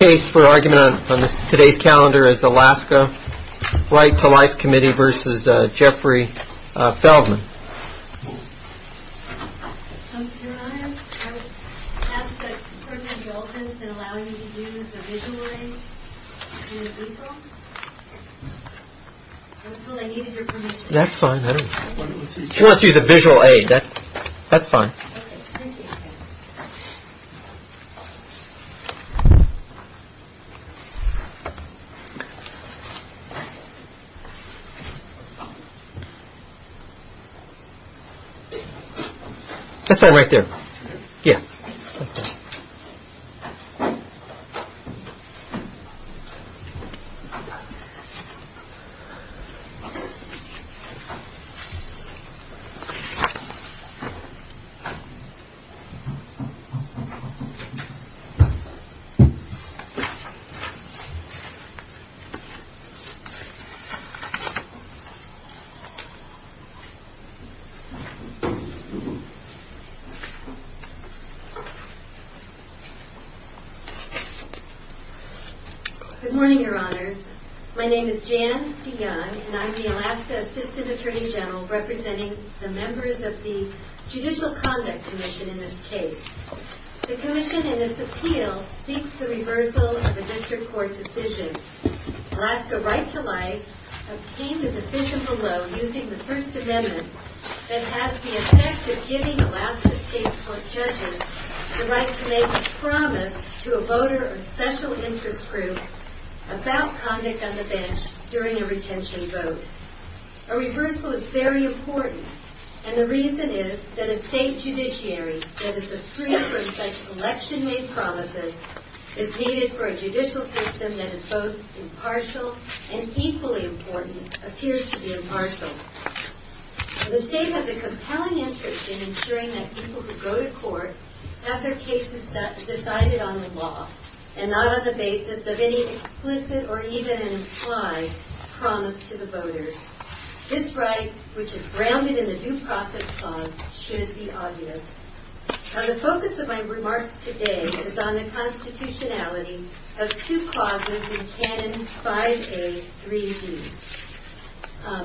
Case for argument on today's calendar is Alaska Right to Life Committee versus Jeffrey Feldman. I would ask for indulgence in allowing me to use a visual aid. That's fine. She wants to use a visual aid. That's fine. Okay, thank you. That's fine right there. Yeah. Good morning, Your Honors. My name is Jan DeYoung, and I'm the Alaska Assistant Attorney General representing the members of the Judicial Conduct Commission in this case. The commission in this appeal seeks the reversal of a district court decision. Alaska Right to Life obtained a decision below using the First Amendment that has the effect of giving Alaska state court judges the right to make a promise to a voter of special interest group about conduct on the bench during a retention vote. A reversal is very important, and the reason is that a state judiciary that is free from such election-made promises is needed for a judicial system that is both impartial and equally important appears to be impartial. The state has a compelling interest in ensuring that people who go to court have their cases decided on the law and not on the basis of any explicit or even implied promise to the voters. This right, which is grounded in the Due Process Clause, should be obvious. Now, the focus of my remarks today is on the constitutionality of two clauses in Canon 5A3D.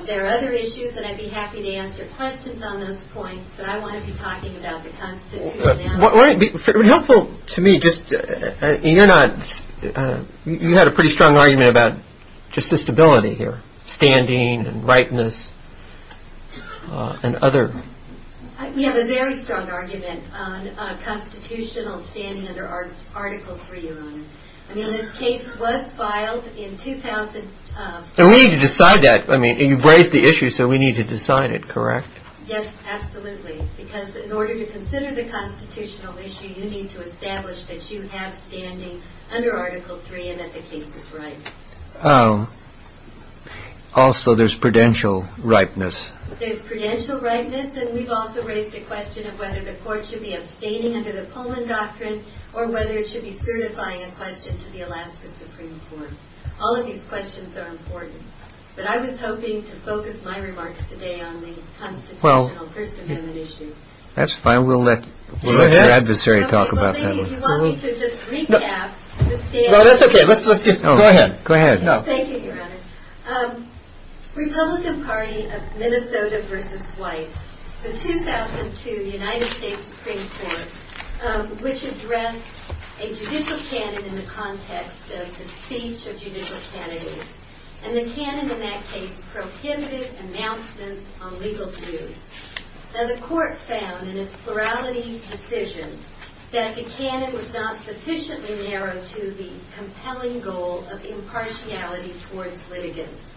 There are other issues, and I'd be happy to answer questions on those points, but I want to be talking about the constitutionality. Would it be helpful to me just – you're not – you had a pretty strong argument about just the stability here, standing and rightness and other – We have a very strong argument on constitutional standing under Article 3, Your Honor. I mean, this case was filed in – And we need to decide that. I mean, you've raised the issue, so we need to decide it, correct? Yes, absolutely, because in order to consider the constitutional issue, you need to establish that you have standing under Article 3 and that the case is right. Oh. Also, there's prudential rightness. There's prudential rightness, and we've also raised a question of whether the court should be abstaining under the Pullman Doctrine or whether it should be certifying a question to the Alaska Supreme Court. All of these questions are important, but I was hoping to focus my remarks today on the constitutional First Amendment issue. That's fine. We'll let your adversary talk about that one. If you want me to just recap the stand – No, that's okay. Let's just – go ahead. Thank you, Your Honor. Republican Party of Minnesota v. White. It's a 2002 United States Supreme Court which addressed a judicial canon in the context of the speech of judicial candidates. And the canon in that case prohibited announcements on legal views. Now, the court found in its plurality decision that the canon was not sufficiently narrowed to the compelling goal of impartiality towards litigants.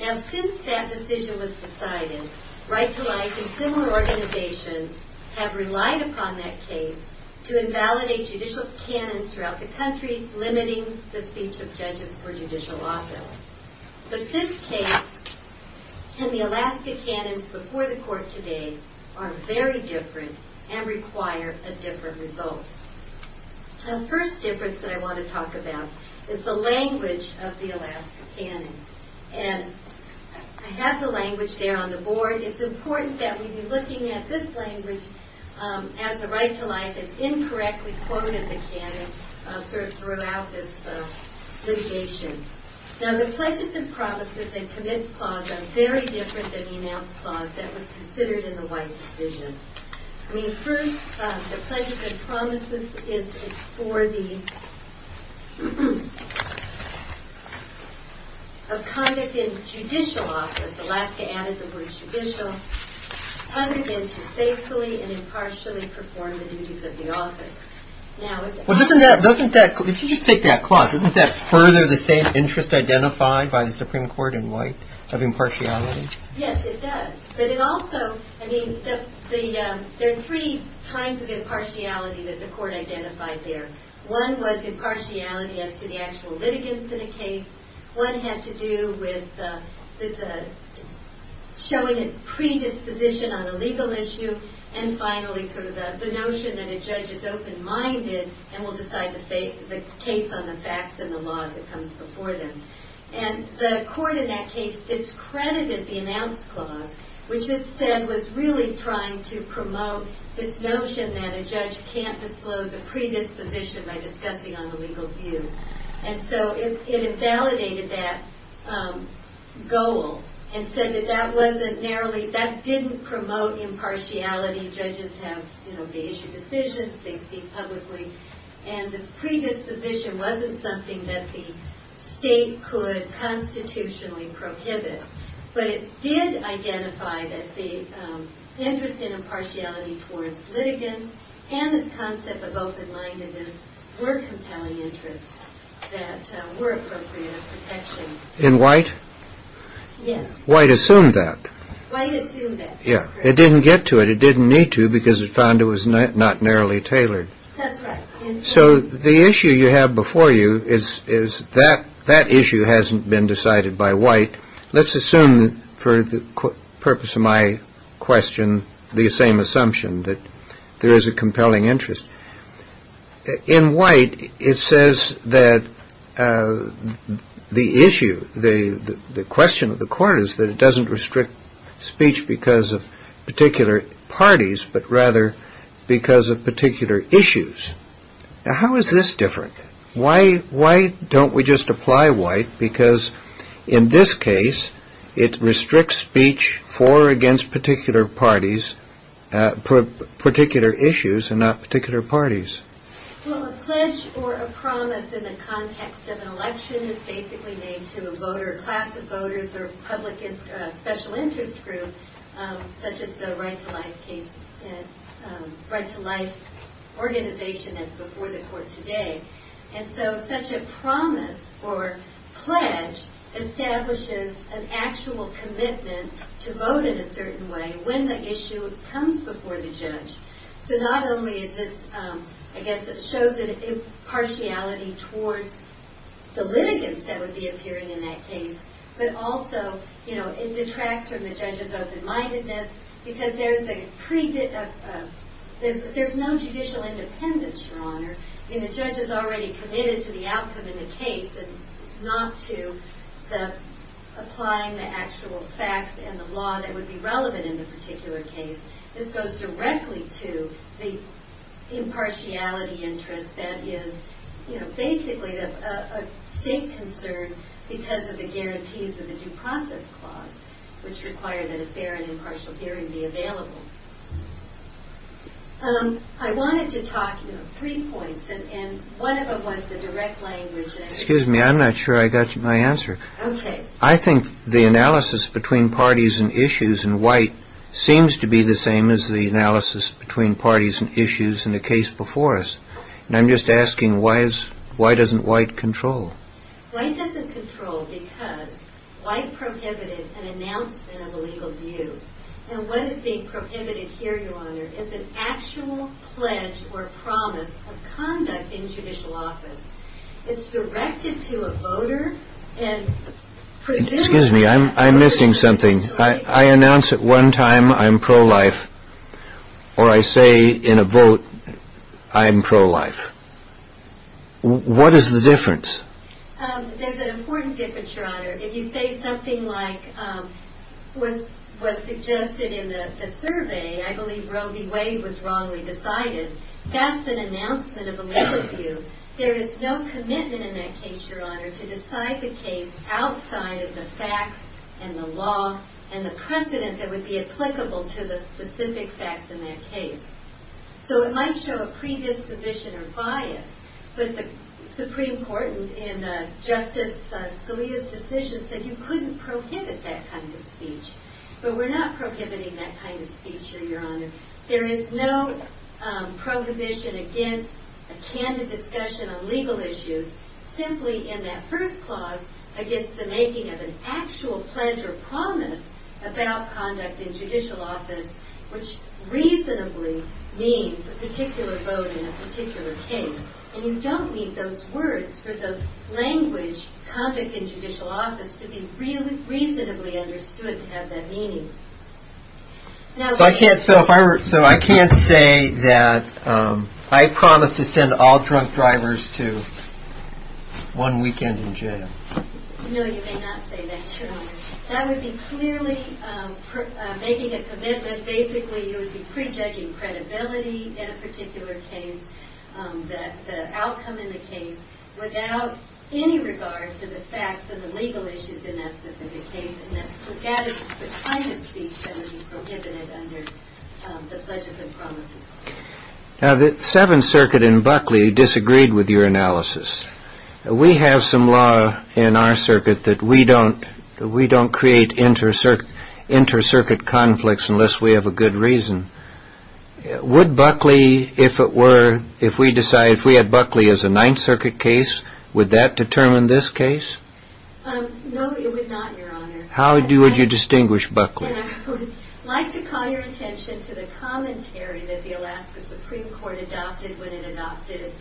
Now, since that decision was decided, Right to Life and similar organizations have relied upon that case to invalidate judicial canons throughout the country, limiting the speech of judges for judicial office. But this case and the Alaska canons before the court today are very different and require a different result. The first difference that I want to talk about is the language of the Alaska canon. And I have the language there on the board. It's important that we be looking at this language as a Right to Life. It's incorrectly quoted in the canon throughout this litigation. Now, the Pledges and Promises and Commits Clause are very different than the Announce Clause that was considered in the White decision. I mean, first, the Pledges and Promises is for the – of conduct in judicial office. Alaska added the word judicial. Other than to faithfully and impartially perform the duties of the office. Well, doesn't that – if you just take that clause, doesn't that further the same interest identified by the Supreme Court in White of impartiality? Yes, it does. But it also – I mean, there are three kinds of impartiality that the court identified there. One was impartiality as to the actual litigants in a case. One had to do with this – showing a predisposition on a legal issue. And finally, sort of the notion that a judge is open-minded and will decide the case on the facts and the law that comes before them. And the court in that case discredited the Announce Clause, which it said was really trying to promote this notion that a judge can't disclose a predisposition by discussing on the legal view. And so it invalidated that goal and said that that wasn't narrowly – that didn't promote impartiality. Judges have – you know, they issue decisions. They speak publicly. And this predisposition wasn't something that the state could constitutionally prohibit. But it did identify that the interest in impartiality towards litigants and this concept of open-mindedness were compelling interests that were appropriate of protection. In White? Yes. White assumed that. White assumed that. Yeah. It didn't get to it. It didn't need to because it found it was not narrowly tailored. That's right. So the issue you have before you is that that issue hasn't been decided by White. Let's assume for the purpose of my question the same assumption, that there is a compelling interest. In White, it says that the issue, the question of the court is that it doesn't restrict speech because of particular parties but rather because of particular issues. Now, how is this different? Why don't we just apply White? Because in this case, it restricts speech for or against particular parties, particular issues and not particular parties. Well, a pledge or a promise in the context of an election is basically made to a class of voters or a public special interest group such as the Right to Life organization that's before the court today. And so such a promise or pledge establishes an actual commitment to vote in a certain way when the issue comes before the judge. So not only is this, I guess it shows impartiality towards the litigants that would be appearing in that case, but also it detracts from the judge's open-mindedness because there's no judicial independence, Your Honor. I mean, the judge is already committed to the outcome in the case and not to applying the actual facts and the law that would be relevant in the particular case. This goes directly to the impartiality interest that is, you know, basically a state concern because of the guarantees of the Due Process Clause, which require that a fair and impartial hearing be available. I wanted to talk, you know, three points, and one of them was the direct language. Excuse me, I'm not sure I got my answer. Okay. I think the analysis between parties and issues in White seems to be the same as the analysis between parties and issues in the case before us. And I'm just asking, why doesn't White control? White doesn't control because White prohibited an announcement of a legal view. And what is being prohibited here, Your Honor, is an actual pledge or promise of conduct in judicial office. It's directed to a voter and prohibited. Excuse me, I'm missing something. I announce at one time I'm pro-life or I say in a vote I'm pro-life. What is the difference? There's an important difference, Your Honor. If you say something like was suggested in the survey, I believe Roe v. Wade was wrongly decided, that's an announcement of a legal view. There is no commitment in that case, Your Honor, to decide the case outside of the facts and the law and the precedent that would be applicable to the specific facts in that case. So it might show a predisposition or bias, but the Supreme Court in Justice Scalia's decision said you couldn't prohibit that kind of speech. But we're not prohibiting that kind of speech, Your Honor. There is no prohibition against a candid discussion on legal issues simply in that first clause against the making of an actual pledge or promise about conduct in judicial office, which reasonably means a particular vote in a particular case. And you don't need those words for the language conduct in judicial office to be reasonably understood to have that meaning. So I can't say that I promise to send all drunk drivers to one weekend in jail. No, you may not say that, Your Honor. That would be clearly making a commitment. Basically, you would be prejudging credibility in a particular case, the outcome in the case, without any regard for the facts and the legal issues in that specific case. And that kind of speech would be prohibited under the pledges and promises. Now, the Seventh Circuit in Buckley disagreed with your analysis. We have some law in our circuit that we don't create inter-circuit conflicts unless we have a good reason. Would Buckley, if it were, if we had Buckley as a Ninth Circuit case, would that determine this case? No, it would not, Your Honor. How would you distinguish Buckley? I would like to call your attention to the commentary that the Alaska Supreme Court adopted when it adopted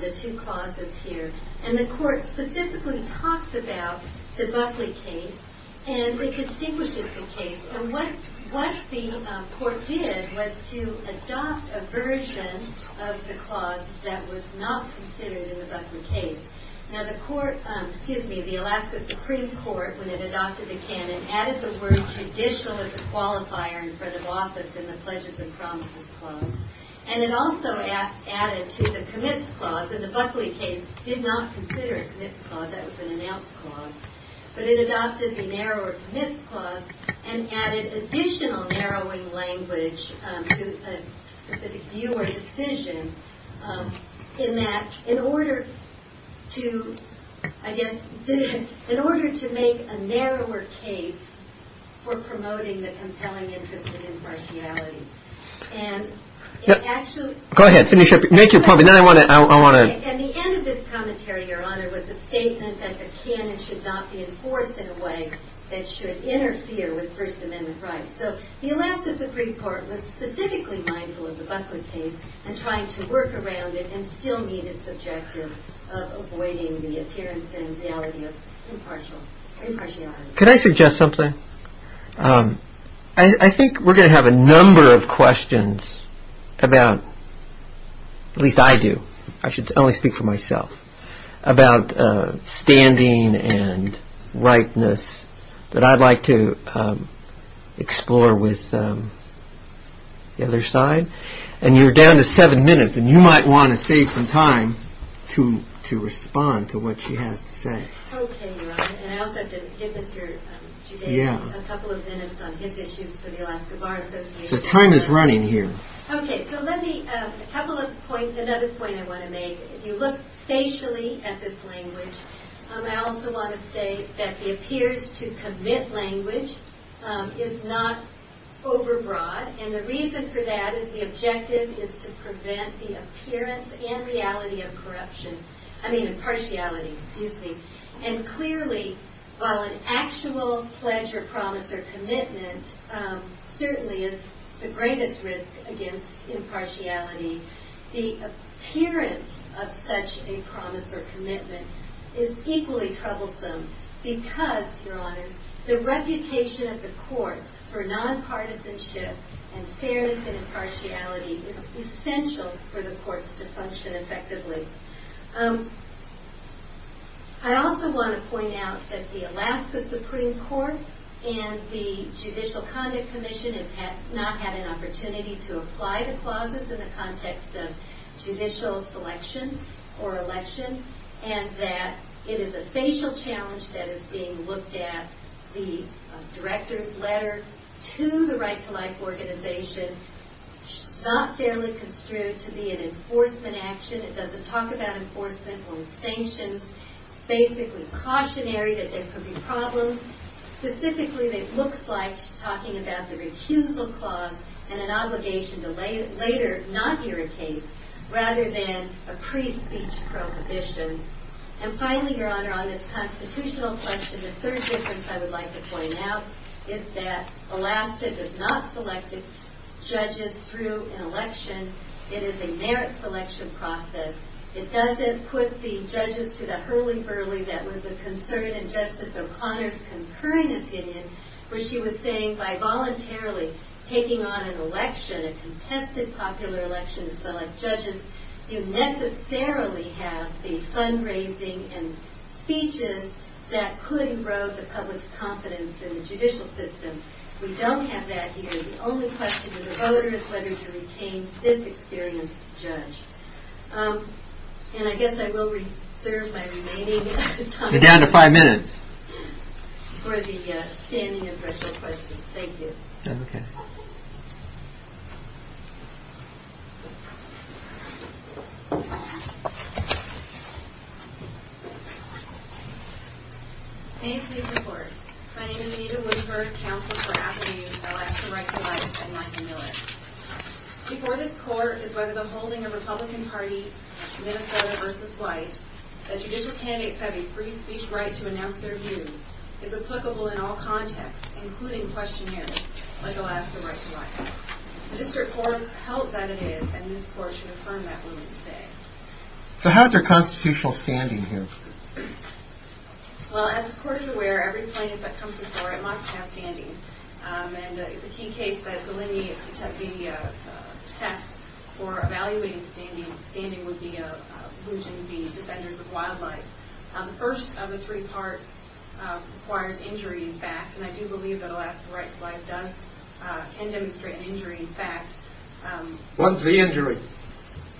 the two clauses here. And the Court specifically talks about the Buckley case, and it distinguishes the case. And what the Court did was to adopt a version of the clause that was not considered in the Buckley case. Now, the Alaska Supreme Court, when it adopted the canon, added the word judicial as a qualifier in front of office in the pledges and promises clause. And it also added to the commits clause. And the Buckley case did not consider a commits clause. That was an announce clause. But it adopted the narrower commits clause and added additional narrowing language to a specific view or decision in that, in order to, I guess, in order to make a narrower case for promoting the compelling interest of impartiality. And it actually – Go ahead. Finish up. Make your comment. And the end of this commentary, Your Honor, was a statement that the canon should not be enforced in a way that should interfere with First Amendment rights. So the Alaska Supreme Court was specifically mindful of the Buckley case and trying to work around it and still meet its objective of avoiding the appearance and reality of impartiality. Could I suggest something? I think we're going to have a number of questions about – at least I do. I should only speak for myself – about standing and rightness that I'd like to explore with the other side. And you're down to seven minutes, and you might want to save some time to respond to what she has to say. Okay, Your Honor. And I also have to give Mr. Giudani a couple of minutes on his issues for the Alaska Bar Association. So time is running here. Okay. So let me – a couple of points – another point I want to make. If you look facially at this language, I also want to say that the appears-to-commit language is not overbroad. And the reason for that is the objective is to prevent the appearance and reality of corruption – I mean impartiality, excuse me. And clearly, while an actual pledge or promise or commitment certainly is the greatest risk against impartiality, the appearance of such a promise or commitment is equally troublesome because, Your Honors, the reputation of the courts for nonpartisanship and fairness and impartiality is essential for the courts to function effectively. I also want to point out that the Alaska Supreme Court and the Judicial Conduct Commission has not had an opportunity to apply the clauses in the context of judicial selection or election, and that it is a facial challenge that is being looked at. The director's letter to the Right to Life organization is not fairly construed to be an enforcement action. It doesn't talk about enforcement or sanctions. It's basically cautionary that there could be problems. Specifically, it looks like she's talking about the recusal clause and an obligation to later not hear a case rather than a pre-speech prohibition. And finally, Your Honor, on this constitutional question, the third difference I would like to point out is that Alaska does not select its judges through an election. It is a merit selection process. It doesn't put the judges to the hurly-burly that was the concern in Justice O'Connor's concurring opinion where she was saying by voluntarily taking on an election, a contested popular election, the select judges do necessarily have the fundraising and speeches that could erode the public's confidence in the judicial system. We don't have that here. The only question for the voter is whether to retain this experienced judge. And I guess I will reserve my remaining time. You're down to five minutes. For the standing official questions. Thank you. Okay. May it please the Court. My name is Anita Woodford, Counselor for African-Youth. I'd like to write to Mike and Mike Miller. Before this Court, it is whether the holding of Republican Party, Minnesota v. White, that judicial candidates have a free speech right to announce their views is applicable in all contexts, including questionnaires, like Alaska right to right. The District Court has held that it is, and this Court should affirm that ruling today. So how is there constitutional standing here? Well, as this Court is aware, every plaintiff that comes before it must have standing. And it's a key case that delineates the test for evaluating standing. Standing would be allusion to the defenders of wildlife. The first of the three parts requires injury, in fact. And I do believe that Alaska right to life can demonstrate an injury, in fact. What's the injury?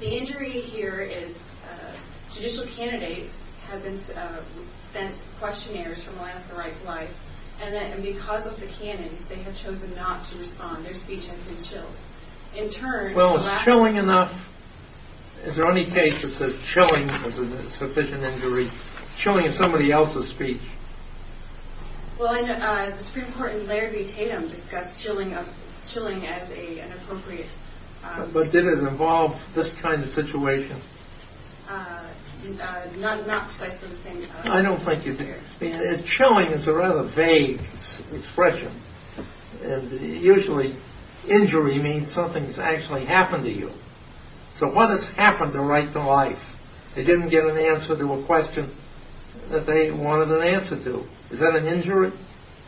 The injury here is judicial candidates have sent questionnaires from Alaska right to life. And because of the canons, they have chosen not to respond. Their speech has been chilled. Well, is chilling enough? Is there any case that says chilling is a sufficient injury? Chilling is somebody else's speech. Well, the Supreme Court in Larrabee-Tatum discussed chilling as an appropriate... But did it involve this kind of situation? Not precisely the same thing. I don't think it did. Chilling is a rather vague expression. Usually injury means something's actually happened to you. So what has happened to right to life? They didn't get an answer to a question that they wanted an answer to. Is that an injury?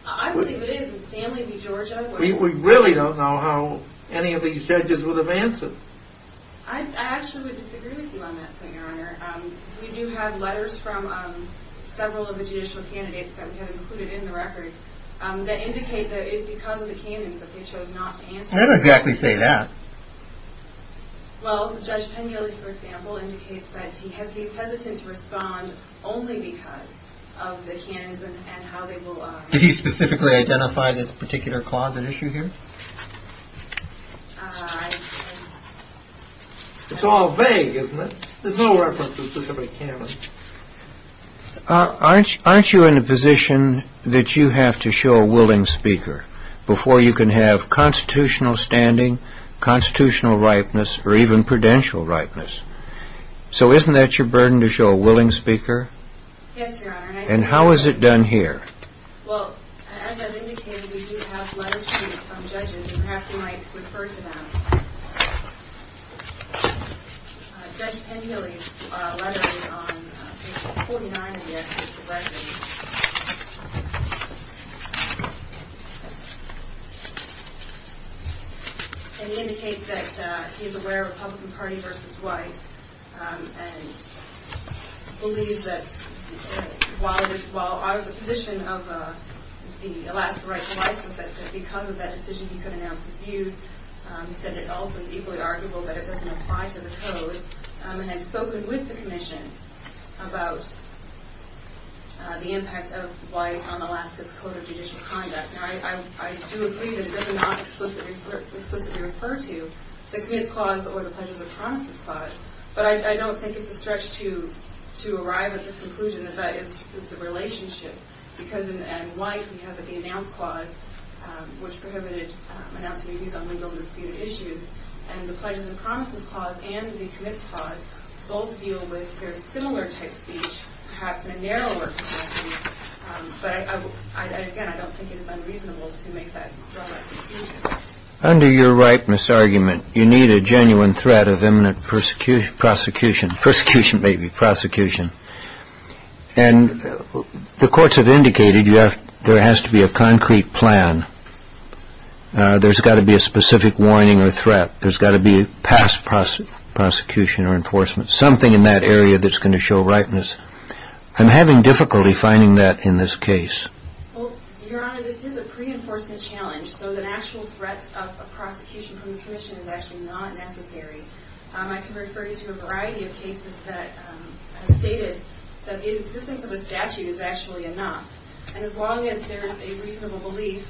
I believe it is. We really don't know how any of these judges would have answered. I actually would disagree with you on that point, Your Honor. We do have letters from several of the judicial candidates that we have included in the record that indicate that it is because of the canons that they chose not to answer. They don't exactly say that. Well, Judge Penielly, for example, indicates that he has been hesitant to respond only because of the canons and how they will... Did he specifically identify this particular closet issue here? I... It's all vague, isn't it? There's no reference to a specific canon. Aren't you in a position that you have to show a willing speaker before you can have constitutional standing, constitutional ripeness, or even prudential ripeness? So isn't that your burden to show a willing speaker? Yes, Your Honor. And how is it done here? Well, as I've indicated, we do have letters from judges, and perhaps you might refer to them. Judge Penielly's letter is on page 49 of the executive record. And he indicates that he is aware of Republican Party v. White and believes that while out of the position of the Alaska right to life, he said that because of that decision he could announce his views, he said it also is equally arguable that it doesn't apply to the Code, and has spoken with the Commission about the impact of White on Alaska's Code of Judicial Conduct. Now, I do agree that it does not explicitly refer to the Committee's clause or the Pledges of Promises clause, but I don't think it's a stretch to arrive at the conclusion that that is the relationship, because in White we have the Announce clause, which prohibited announcing views on legal and disputed issues, and the Pledges of Promises clause and the Commit clause both deal with very similar-type speech, perhaps in a narrower capacity, but again, I don't think it is unreasonable to make that run like this. Under your ripeness argument, you need a genuine threat of imminent prosecution. Persecution, maybe. Prosecution. And the courts have indicated there has to be a concrete plan. There's got to be a specific warning or threat. There's got to be past prosecution or enforcement, something in that area that's going to show ripeness. I'm having difficulty finding that in this case. Well, Your Honor, this is a pre-enforcement challenge, so the actual threat of prosecution from the Commission is actually not necessary. I can refer you to a variety of cases that have stated that the existence of a statute is actually enough. And as long as there is a reasonable belief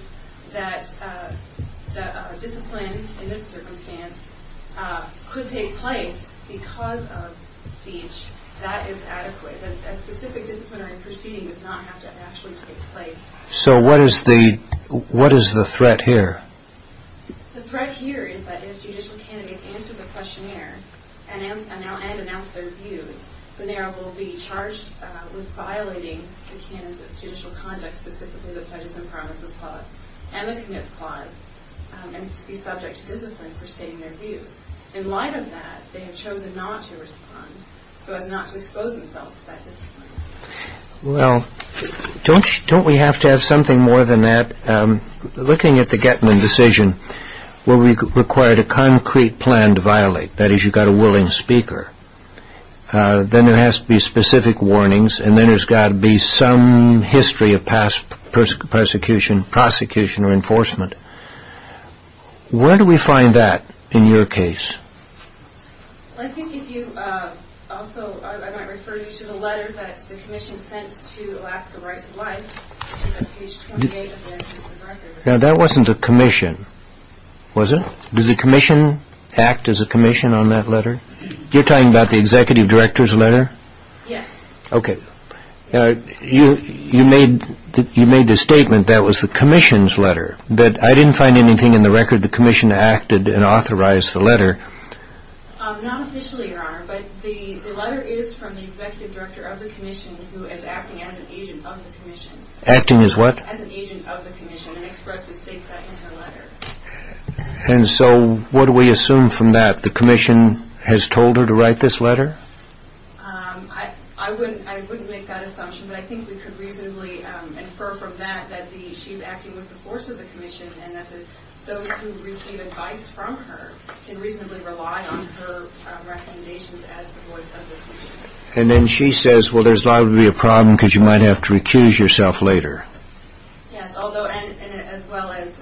that a discipline in this circumstance could take place because of speech, that is adequate. A specific disciplinary proceeding does not have to actually take place. So what is the threat here? The threat here is that if judicial candidates answer the questionnaire and announce their views, then they will be charged with violating the canons of judicial conduct, specifically the Pledges and Promises Clause and the Commit Clause, and be subject to discipline for stating their views. In light of that, they have chosen not to respond, so as not to expose themselves to that discipline. Well, don't we have to have something more than that? Looking at the Getman decision, where we required a concrete plan to violate, that is, you've got a willing speaker, then there has to be specific warnings, and then there's got to be some history of past prosecution or enforcement. Where do we find that in your case? I think if you also, I might refer you to the letter that the commission sent to Alaska Rights of Life, on page 28 of the agency's record. Now, that wasn't the commission, was it? Did the commission act as a commission on that letter? You're talking about the executive director's letter? Yes. Okay. You made the statement that was the commission's letter, but I didn't find anything in the record the commission acted and authorized the letter. Not officially, Your Honor, but the letter is from the executive director of the commission who is acting as an agent of the commission. Acting as what? As an agent of the commission, and expressed the state that in her letter. And so what do we assume from that? The commission has told her to write this letter? I wouldn't make that assumption, but I think we could reasonably infer from that that she's acting with the force of the commission and that those who receive advice from her can reasonably rely on her recommendations as the voice of the commission. And then she says, well, there's likely to be a problem because you might have to recuse yourself later. Yes, and as well as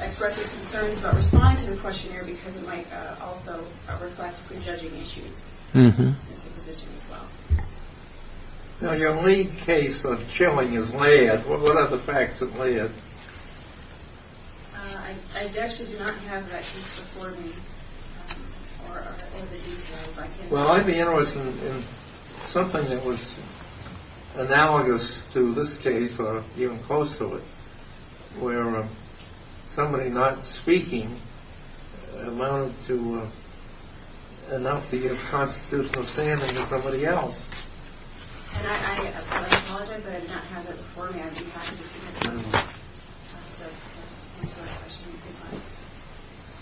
express her concerns about responding to the questionnaire because it might also reflect prejudging issues as well. Now, your lead case of chilling is Laird. What are the facts of Laird? I actually do not have that case before me. Well, I'd be interested in something that was analogous to this case or even close to it where somebody not speaking amounted to enough to get a constitutional standing than somebody else. And I apologize, but I do not have that before me. I do have it.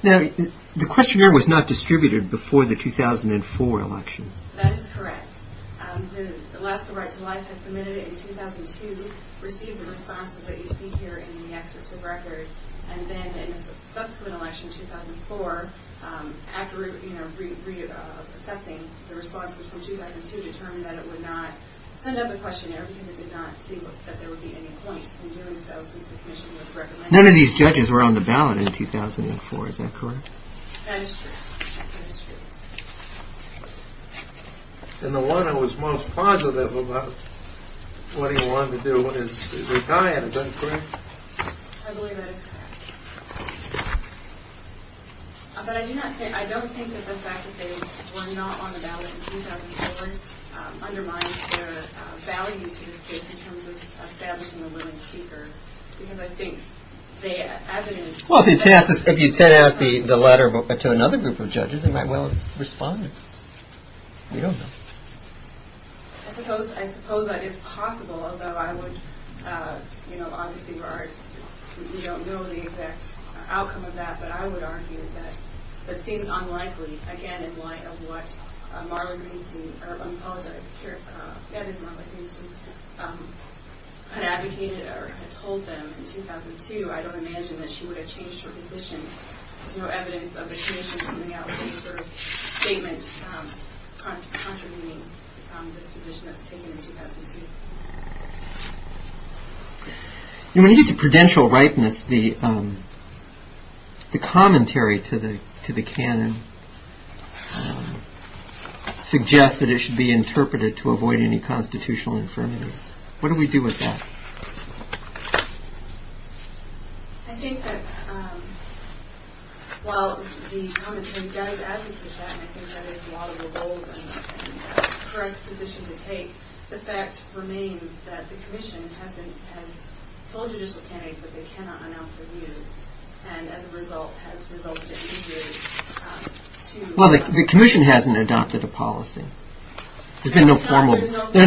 Now, the questionnaire was not distributed before the 2004 election. That is correct. The Alaska Right to Life had submitted it in 2002, received the responses that you see here in the excerpt to the record, and then in the subsequent election, 2004, after re-assessing the responses from 2002, determined that it would not send out the questionnaire because it did not see that there would be any point in doing so since the commission was recommending it. None of these judges were on the ballot in 2004. Is that correct? That is true. That is true. And the one who was most positive about what he wanted to do is the guy in it. Is that correct? I believe that is correct. But I don't think that the fact that they were not on the ballot in 2004 undermines their value to this case in terms of establishing a willing speaker Well, if you had sent out the letter to another group of judges, they might well have responded. We don't know. I suppose that is possible, although I would, you know, obviously you don't know the exact outcome of that, but I would argue that it seems unlikely, again, in light of what Marlon Princeton, I apologize, Ed is Marlon Princeton, had advocated or had told them in 2002, I don't imagine that she would have changed her position. There is no evidence of the commission coming out with any sort of statement contravening this position that was taken in 2002. You know, when you get to prudential ripeness, the commentary to the canon suggests that it should be interpreted to avoid any constitutional infirmities. What do we do with that? I think that while the commentary does advocate that, and I think that is a logical goal and the correct position to take, the fact remains that the commission has told judicial candidates that they cannot announce their views, and as a result has resulted in the jury to... Well, the commission hasn't adopted a policy. There has been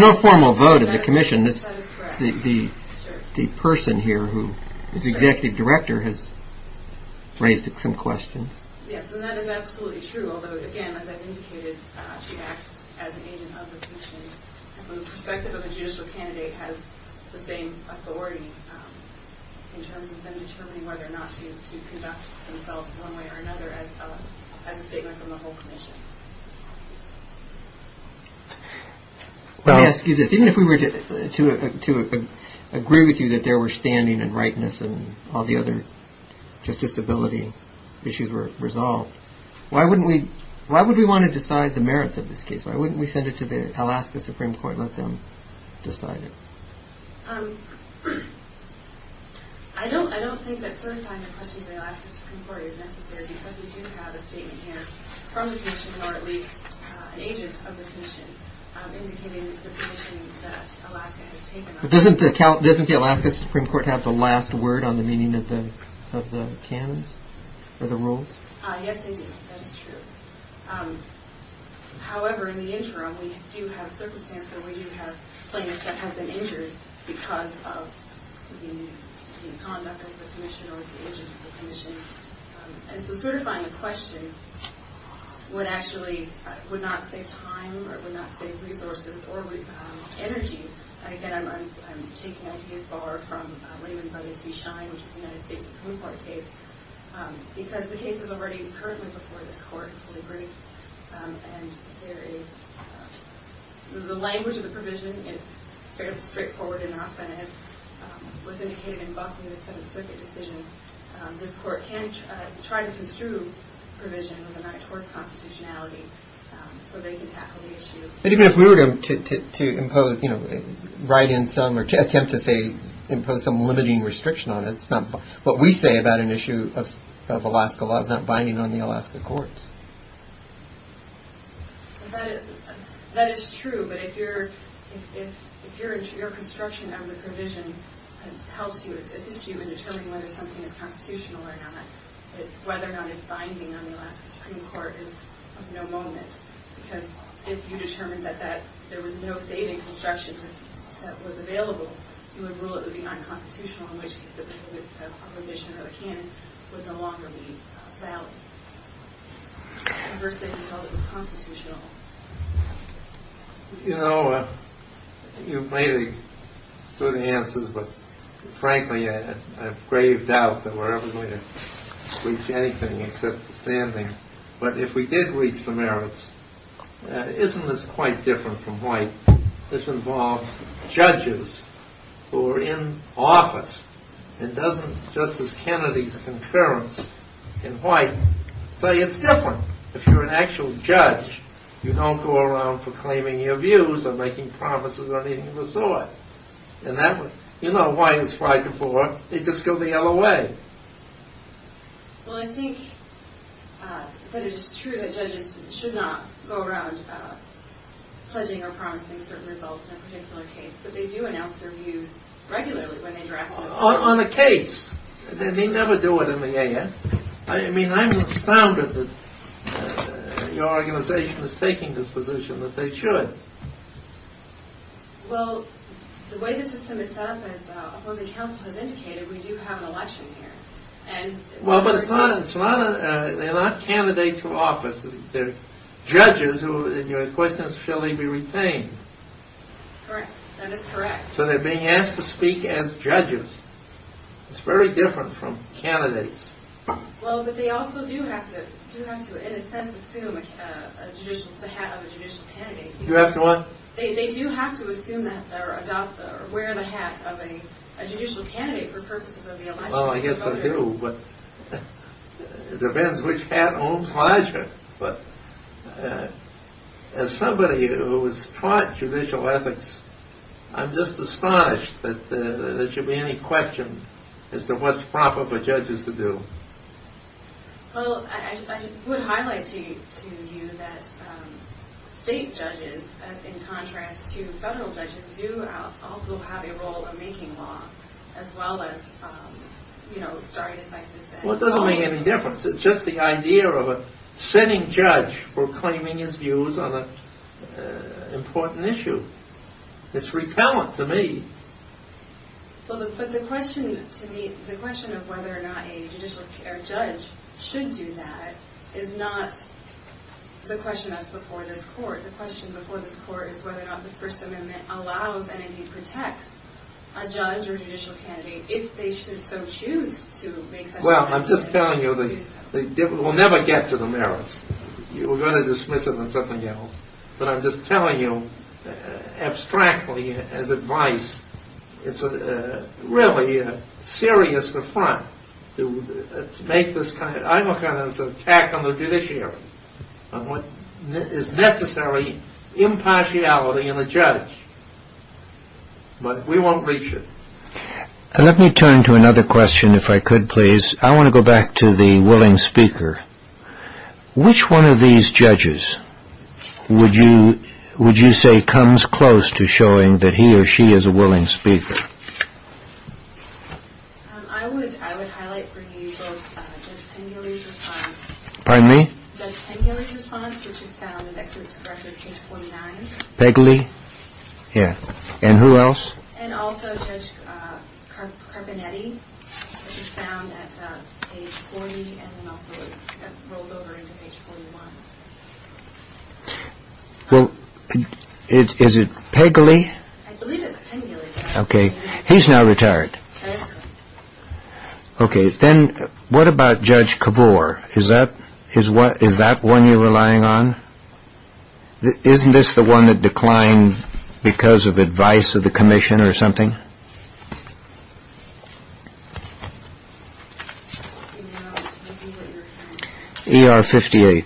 no formal vote of the commission. That is correct. The person here who is the executive director has raised some questions. Yes, and that is absolutely true, although, again, as I've indicated, she acts as an agent of the commission, and from the perspective of a judicial candidate has the same authority in terms of them determining whether or not to conduct themselves one way or another as a statement from the whole commission. Let me ask you this. Even if we were to agree with you that there were standing and rightness and all the other justiciability issues were resolved, why would we want to decide the merits of this case? Why wouldn't we send it to the Alaska Supreme Court and let them decide it? I don't think that certifying the questions of the Alaska Supreme Court is necessary because we do have a statement here from the commission or at least an agent of the commission indicating the position that Alaska has taken on it. Doesn't the Alaska Supreme Court have the last word on the meaning of the canons or the rules? Yes, they do. That is true. However, in the interim, we do have circumstances where we do have plaintiffs that have been injured because of the conduct of the commission or the agent of the commission. And so certifying the question would actually not save time or it would not save resources or energy. And again, I'm taking ideas far from Raymond Buddy's We Shine, which is a United States Supreme Court case, because the case is already currently before this court to be briefed. And there is the language of the provision is fairly straightforward enough and as was indicated in Buckley in the Seventh Circuit decision, this court can try to construe provision with a right towards constitutionality so they can tackle the issue. And even if we were to impose, you know, write in some or attempt to say impose some limiting restriction on it, what we say about an issue of Alaska law is not binding on the Alaska courts. That is true. But if your construction of the provision helps you, assists you in determining whether something is constitutional or not, whether or not it's binding on the Alaska Supreme Court is of no moment, because if you determined that there was no saving construction that was available, you would rule it would be unconstitutional in which case the provision or the canon would no longer be valid. The first thing you would call it was constitutional. You know, you've made a good answer, but frankly, I have grave doubt that we're ever going to reach anything except standing. But if we did reach the merits, isn't this quite different from white? This involves judges who are in office. It doesn't, just as Kennedy's concurrence in white, say it's different. If you're an actual judge, you don't go around proclaiming your views or making promises or anything of the sort. In that way, you know, white is five to four. They just go the other way. Well, I think that it is true that judges should not go around pledging or promising certain results in a particular case, but they do announce their views regularly when they draft them. On a case. They never do it in the A.N. I mean, I'm astounded that your organization is taking this position, that they should. Well, the way the system is set up, as the opposing counsel has indicated, we do have an election here. Well, but they're not candidates for office. They're judges, and your question is, shall they be retained? Correct. That is correct. So they're being asked to speak as judges. It's very different from candidates. Well, but they also do have to, in a sense, assume the hat of a judicial candidate. You have to what? They do have to assume that or adopt or wear the hat of a judicial candidate for purposes of the election. Well, I guess I do, but it depends which hat owns larger. But as somebody who has taught judicial ethics, I'm just astonished that there should be any question as to what's proper for judges to do. Well, I would highlight to you that state judges, in contrast to federal judges, do also have a role in making law, as well as, you know, starting, as I said, Well, it doesn't make any difference. It's just the idea of a sitting judge proclaiming his views on an important issue. It's repellent to me. Well, but the question to me, the question of whether or not a judicial judge should do that is not the question that's before this court. The question before this court is whether or not the First Amendment allows and, indeed, protects a judge or judicial candidate, if they should so choose to make such a decision. Well, I'm just telling you, we'll never get to the merits. We're going to dismiss it on something else. But I'm just telling you, abstractly, as advice, it's really a serious affront to make this kind of – I look at it as an attack on the judiciary, on what is necessary impartiality in a judge. But we won't reach it. Let me turn to another question, if I could, please. I want to go back to the willing speaker. Which one of these judges would you say comes close to showing that he or she is a willing speaker? I would highlight for you both Judge Pengula's response. Pardon me? Judge Pengula's response, which is found on the next paragraph, page 49. Pegley? Yeah. And who else? And also Judge Carbonetti, which is found at page 40 and then also rolls over into page 41. Well, is it Pegley? I believe it's Pengula. Okay. He's now retired. Okay. Then what about Judge Kavor? Is that one you're relying on? Isn't this the one that declined because of advice of the commission or something? ER 58.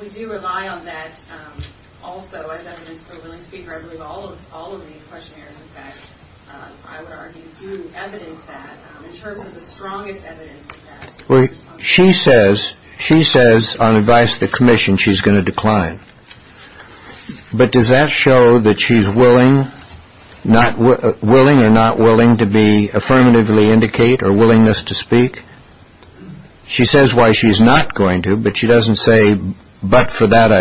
We do rely on that also as evidence for a willing speaker. I believe all of these questionnaires, in fact, I would argue do evidence that. In terms of the strongest evidence of that. She says on advice of the commission she's going to decline. But does that show that she's willing or not willing to affirmatively indicate or willingness to speak? She says why she's not going to, but she doesn't say, but for that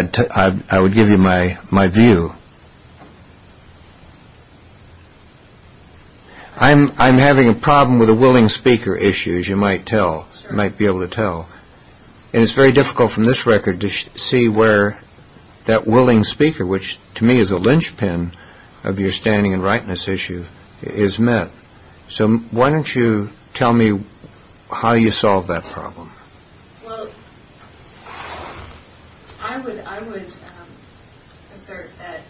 I would give you my view. I'm having a problem with a willing speaker issue, as you might tell, might be able to tell. And it's very difficult from this record to see where that willing speaker, which to me is a linchpin of your standing and rightness issue, is met. So why don't you tell me how you solve that problem? Well, I would assert that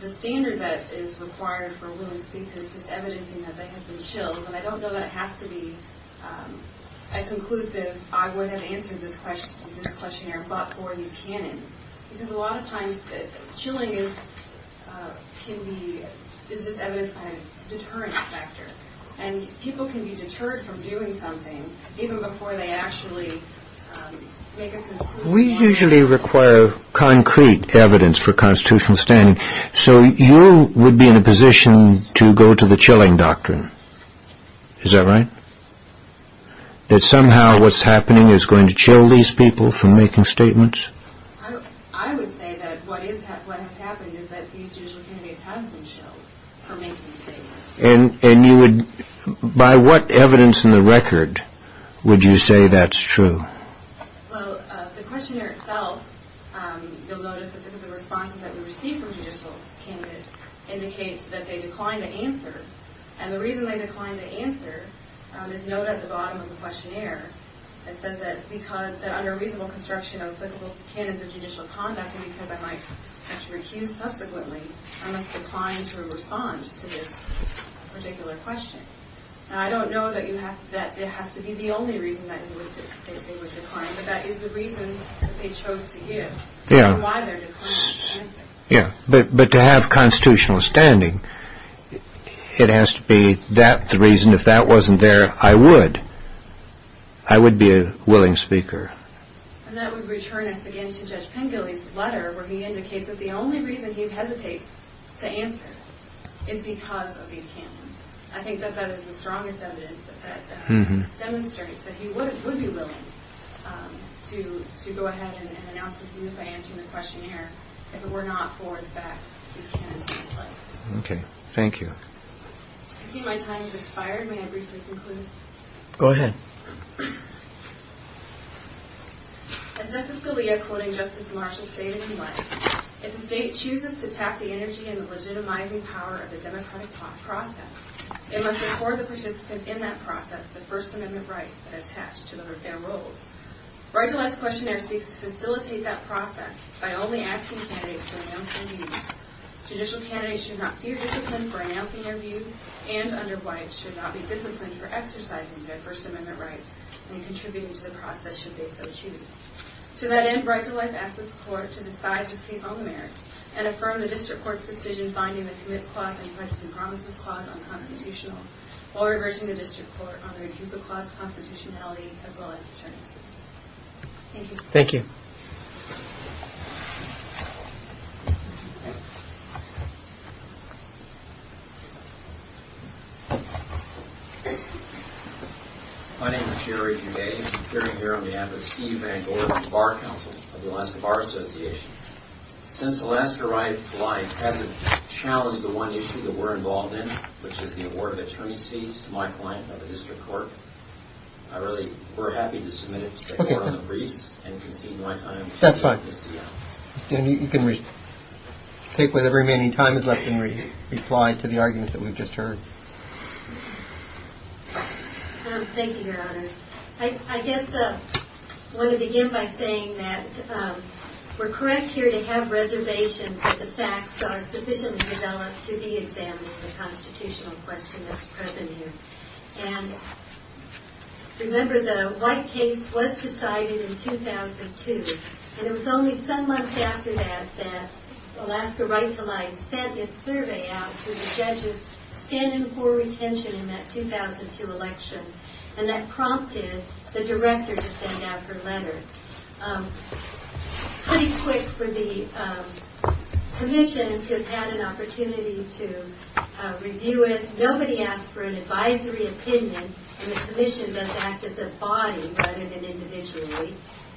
the standard that is required for a willing speaker is just evidencing that they have been chilled. And I don't know that it has to be a conclusive I would have answered this questionnaire but for these canons. Because a lot of times chilling is just evidence of a deterrent factor. And people can be deterred from doing something even before they actually make a conclusion. We usually require concrete evidence for constitutional standing. So you would be in a position to go to the chilling doctrine. Is that right? That somehow what's happening is going to chill these people from making statements? I would say that what has happened is that these judicial candidates have been chilled from making statements. And by what evidence in the record would you say that's true? Well, the questionnaire itself, you'll notice that the responses that we receive from judicial candidates indicate that they decline to answer. And the reason they decline to answer is noted at the bottom of the questionnaire. It says that under reasonable construction of applicable canons of judicial conduct and because I might have to recuse subsequently, I must decline to respond to this particular question. Now, I don't know that it has to be the only reason that they would decline. But that is the reason that they chose to give and why they're declining to answer. Yeah, but to have constitutional standing, it has to be that the reason. If that wasn't there, I would. I would be a willing speaker. And that would return us again to Judge Pengilly's letter where he indicates that the only reason he hesitates to answer is because of these canons. I think that that is the strongest evidence that demonstrates that he would be willing to go ahead and announce his views by answering the questionnaire if it were not for the fact that these canons take place. Okay. Thank you. I see my time has expired. May I briefly conclude? Go ahead. As Justice Scalia, quoting Justice Marshall stated in the letter, if the state chooses to tap the energy and legitimizing power of the democratic process, it must afford the participants in that process the First Amendment rights that attach to their roles. Right to Life's questionnaire seeks to facilitate that process by only asking candidates to announce their views. Judicial candidates should not fear discipline for announcing their views and, under White, should not be disciplined for exercising their First Amendment rights when contributing to the process, should they so choose. To that end, Right to Life asks the Court to decide this case on the merits and affirm the District Court's decision finding the commits clause and the rights and promises clause unconstitutional while reversing the District Court on the refusal clause constitutionality as well as the charges. Thank you. Thank you. My name is Jerry Goudet. I'm here on behalf of Steve Van Gorder of the Bar Council of the Alaska Bar Association. Since Alaska Right to Life hasn't challenged the one issue that we're involved in, which is the award of attorney's fees to my client by the District Court, we're happy to submit it to the Court on the briefs and concede my time. That's fine. You can take whatever remaining time is left and reply to the arguments that we've just heard. Thank you, Your Honors. I guess I want to begin by saying that we're correct here to have reservations that the facts are sufficiently developed to be examined for the constitutional question that's present here. And remember the White case was decided in 2002, and it was only some months after that that Alaska Right to Life sent its survey out to the judges standing for retention in that 2002 election, and that prompted the director to send out her letter. Pretty quick for the commission to have had an opportunity to review it. Nobody asked for an advisory opinion, and the commission must act as a body rather than individually.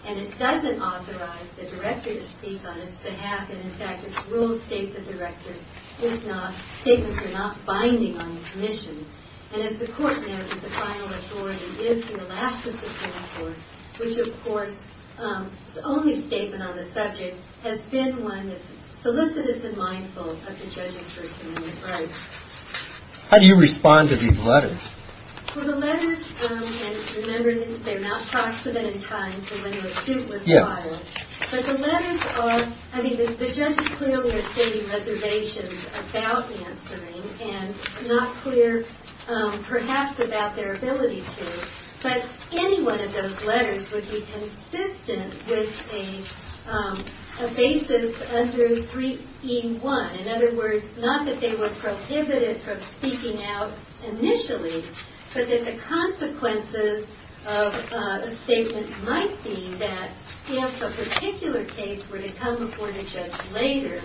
And it doesn't authorize the director to speak on its behalf, and, in fact, its rules state that statements are not binding on the commission. And as the Court noted, the final authority is the Alaska Supreme Court, which, of course, its only statement on the subject has been one that's solicitous and mindful of the judges' First Amendment rights. How do you respond to these letters? Well, the letters, and remember they're not proximate in time to when the suit was filed. But the letters are, I mean, the judges clearly are stating reservations about answering and not clear, perhaps, about their ability to. But any one of those letters would be consistent with a basis under 3E1. In other words, not that they were prohibited from speaking out initially, but that the consequences of a statement might be that if a particular case were to come before the judge later,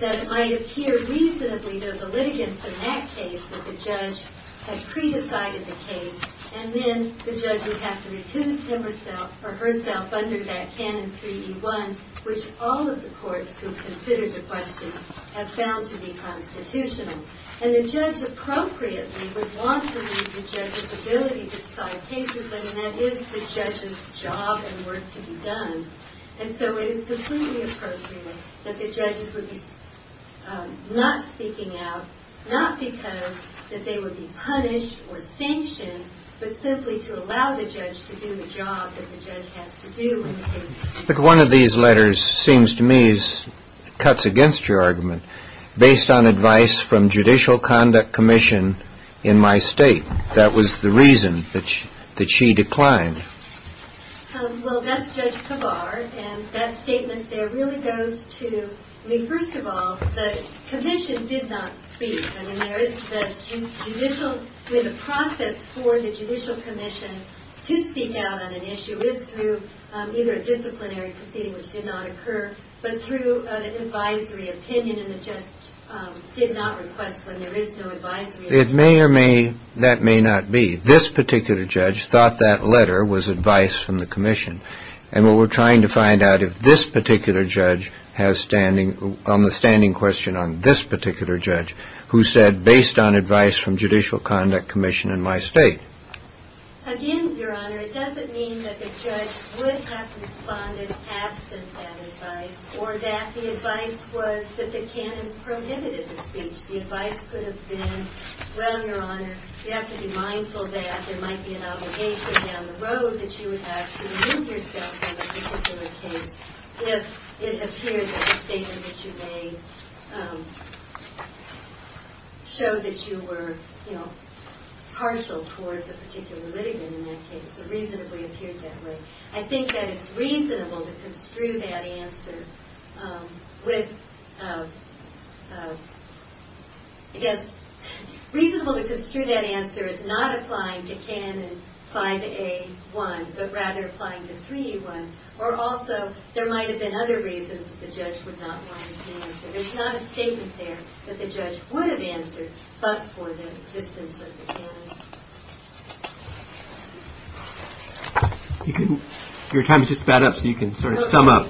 that it might appear reasonably to the litigants in that case that the judge had pre-decided the case, and then the judge would have to recuse himself or herself under that canon 3E1, which all of the courts who've considered the question have found to be constitutional. And the judge appropriately would want to leave the judge's ability to decide cases. I mean, that is the judge's job and work to be done. And so it is completely appropriate that the judges would be not speaking out, not because that they would be punished or sanctioned, but simply to allow the judge to do the job that the judge has to do in the case. But one of these letters seems to me cuts against your argument, based on advice from Judicial Conduct Commission in my state. That was the reason that she declined. Well, that's Judge Kavar. And that statement there really goes to, I mean, first of all, the commission did not speak. I mean, there is the judicial, the process for the Judicial Commission to speak out on an issue is through either a disciplinary proceeding, which did not occur, but through an advisory opinion. And the judge did not request when there is no advisory opinion. It may or may, that may not be. This particular judge thought that letter was advice from the commission. And what we're trying to find out if this particular judge has standing, on the standing question on this particular judge, who said based on advice from Judicial Conduct Commission in my state. Again, Your Honor, it doesn't mean that the judge would have responded absent that advice, or that the advice was that the canons prohibited the speech. The advice could have been, well, Your Honor, you have to be mindful that there might be an obligation down the road that you would have to remove yourself from a particular case if it appears in a statement that you may show that you were, you know, partial towards a particular litigant in that case. It reasonably appeared that way. I think that it's reasonable to construe that answer with, I guess, reasonable to construe that answer as not applying to canon 5A1, but rather applying to 3A1. Or also, there might have been other reasons that the judge would not want to answer. There's not a statement there that the judge would have answered, but for the existence of the canon. Your time has just about up, so you can sort of sum up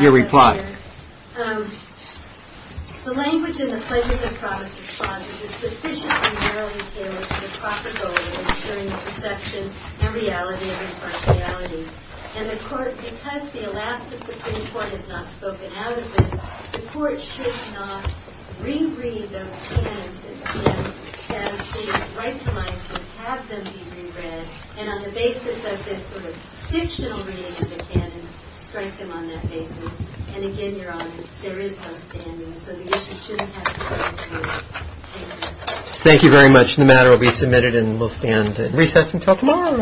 your reply. The language in the Pledges of Promise response is sufficiently narrowly tailored to the proper goal of ensuring the perception and reality of impartiality. And the Court, because the elapses of 3A1 is not spoken out of this, the Court should not re-read those canons and have them be re-read. And on the basis of this sort of fictional reading of the canons, strike them on that basis. And again, Your Honor, there is no standing, so the issue shouldn't have to be re-read. Thank you very much. The matter will be submitted and will stand at recess until tomorrow.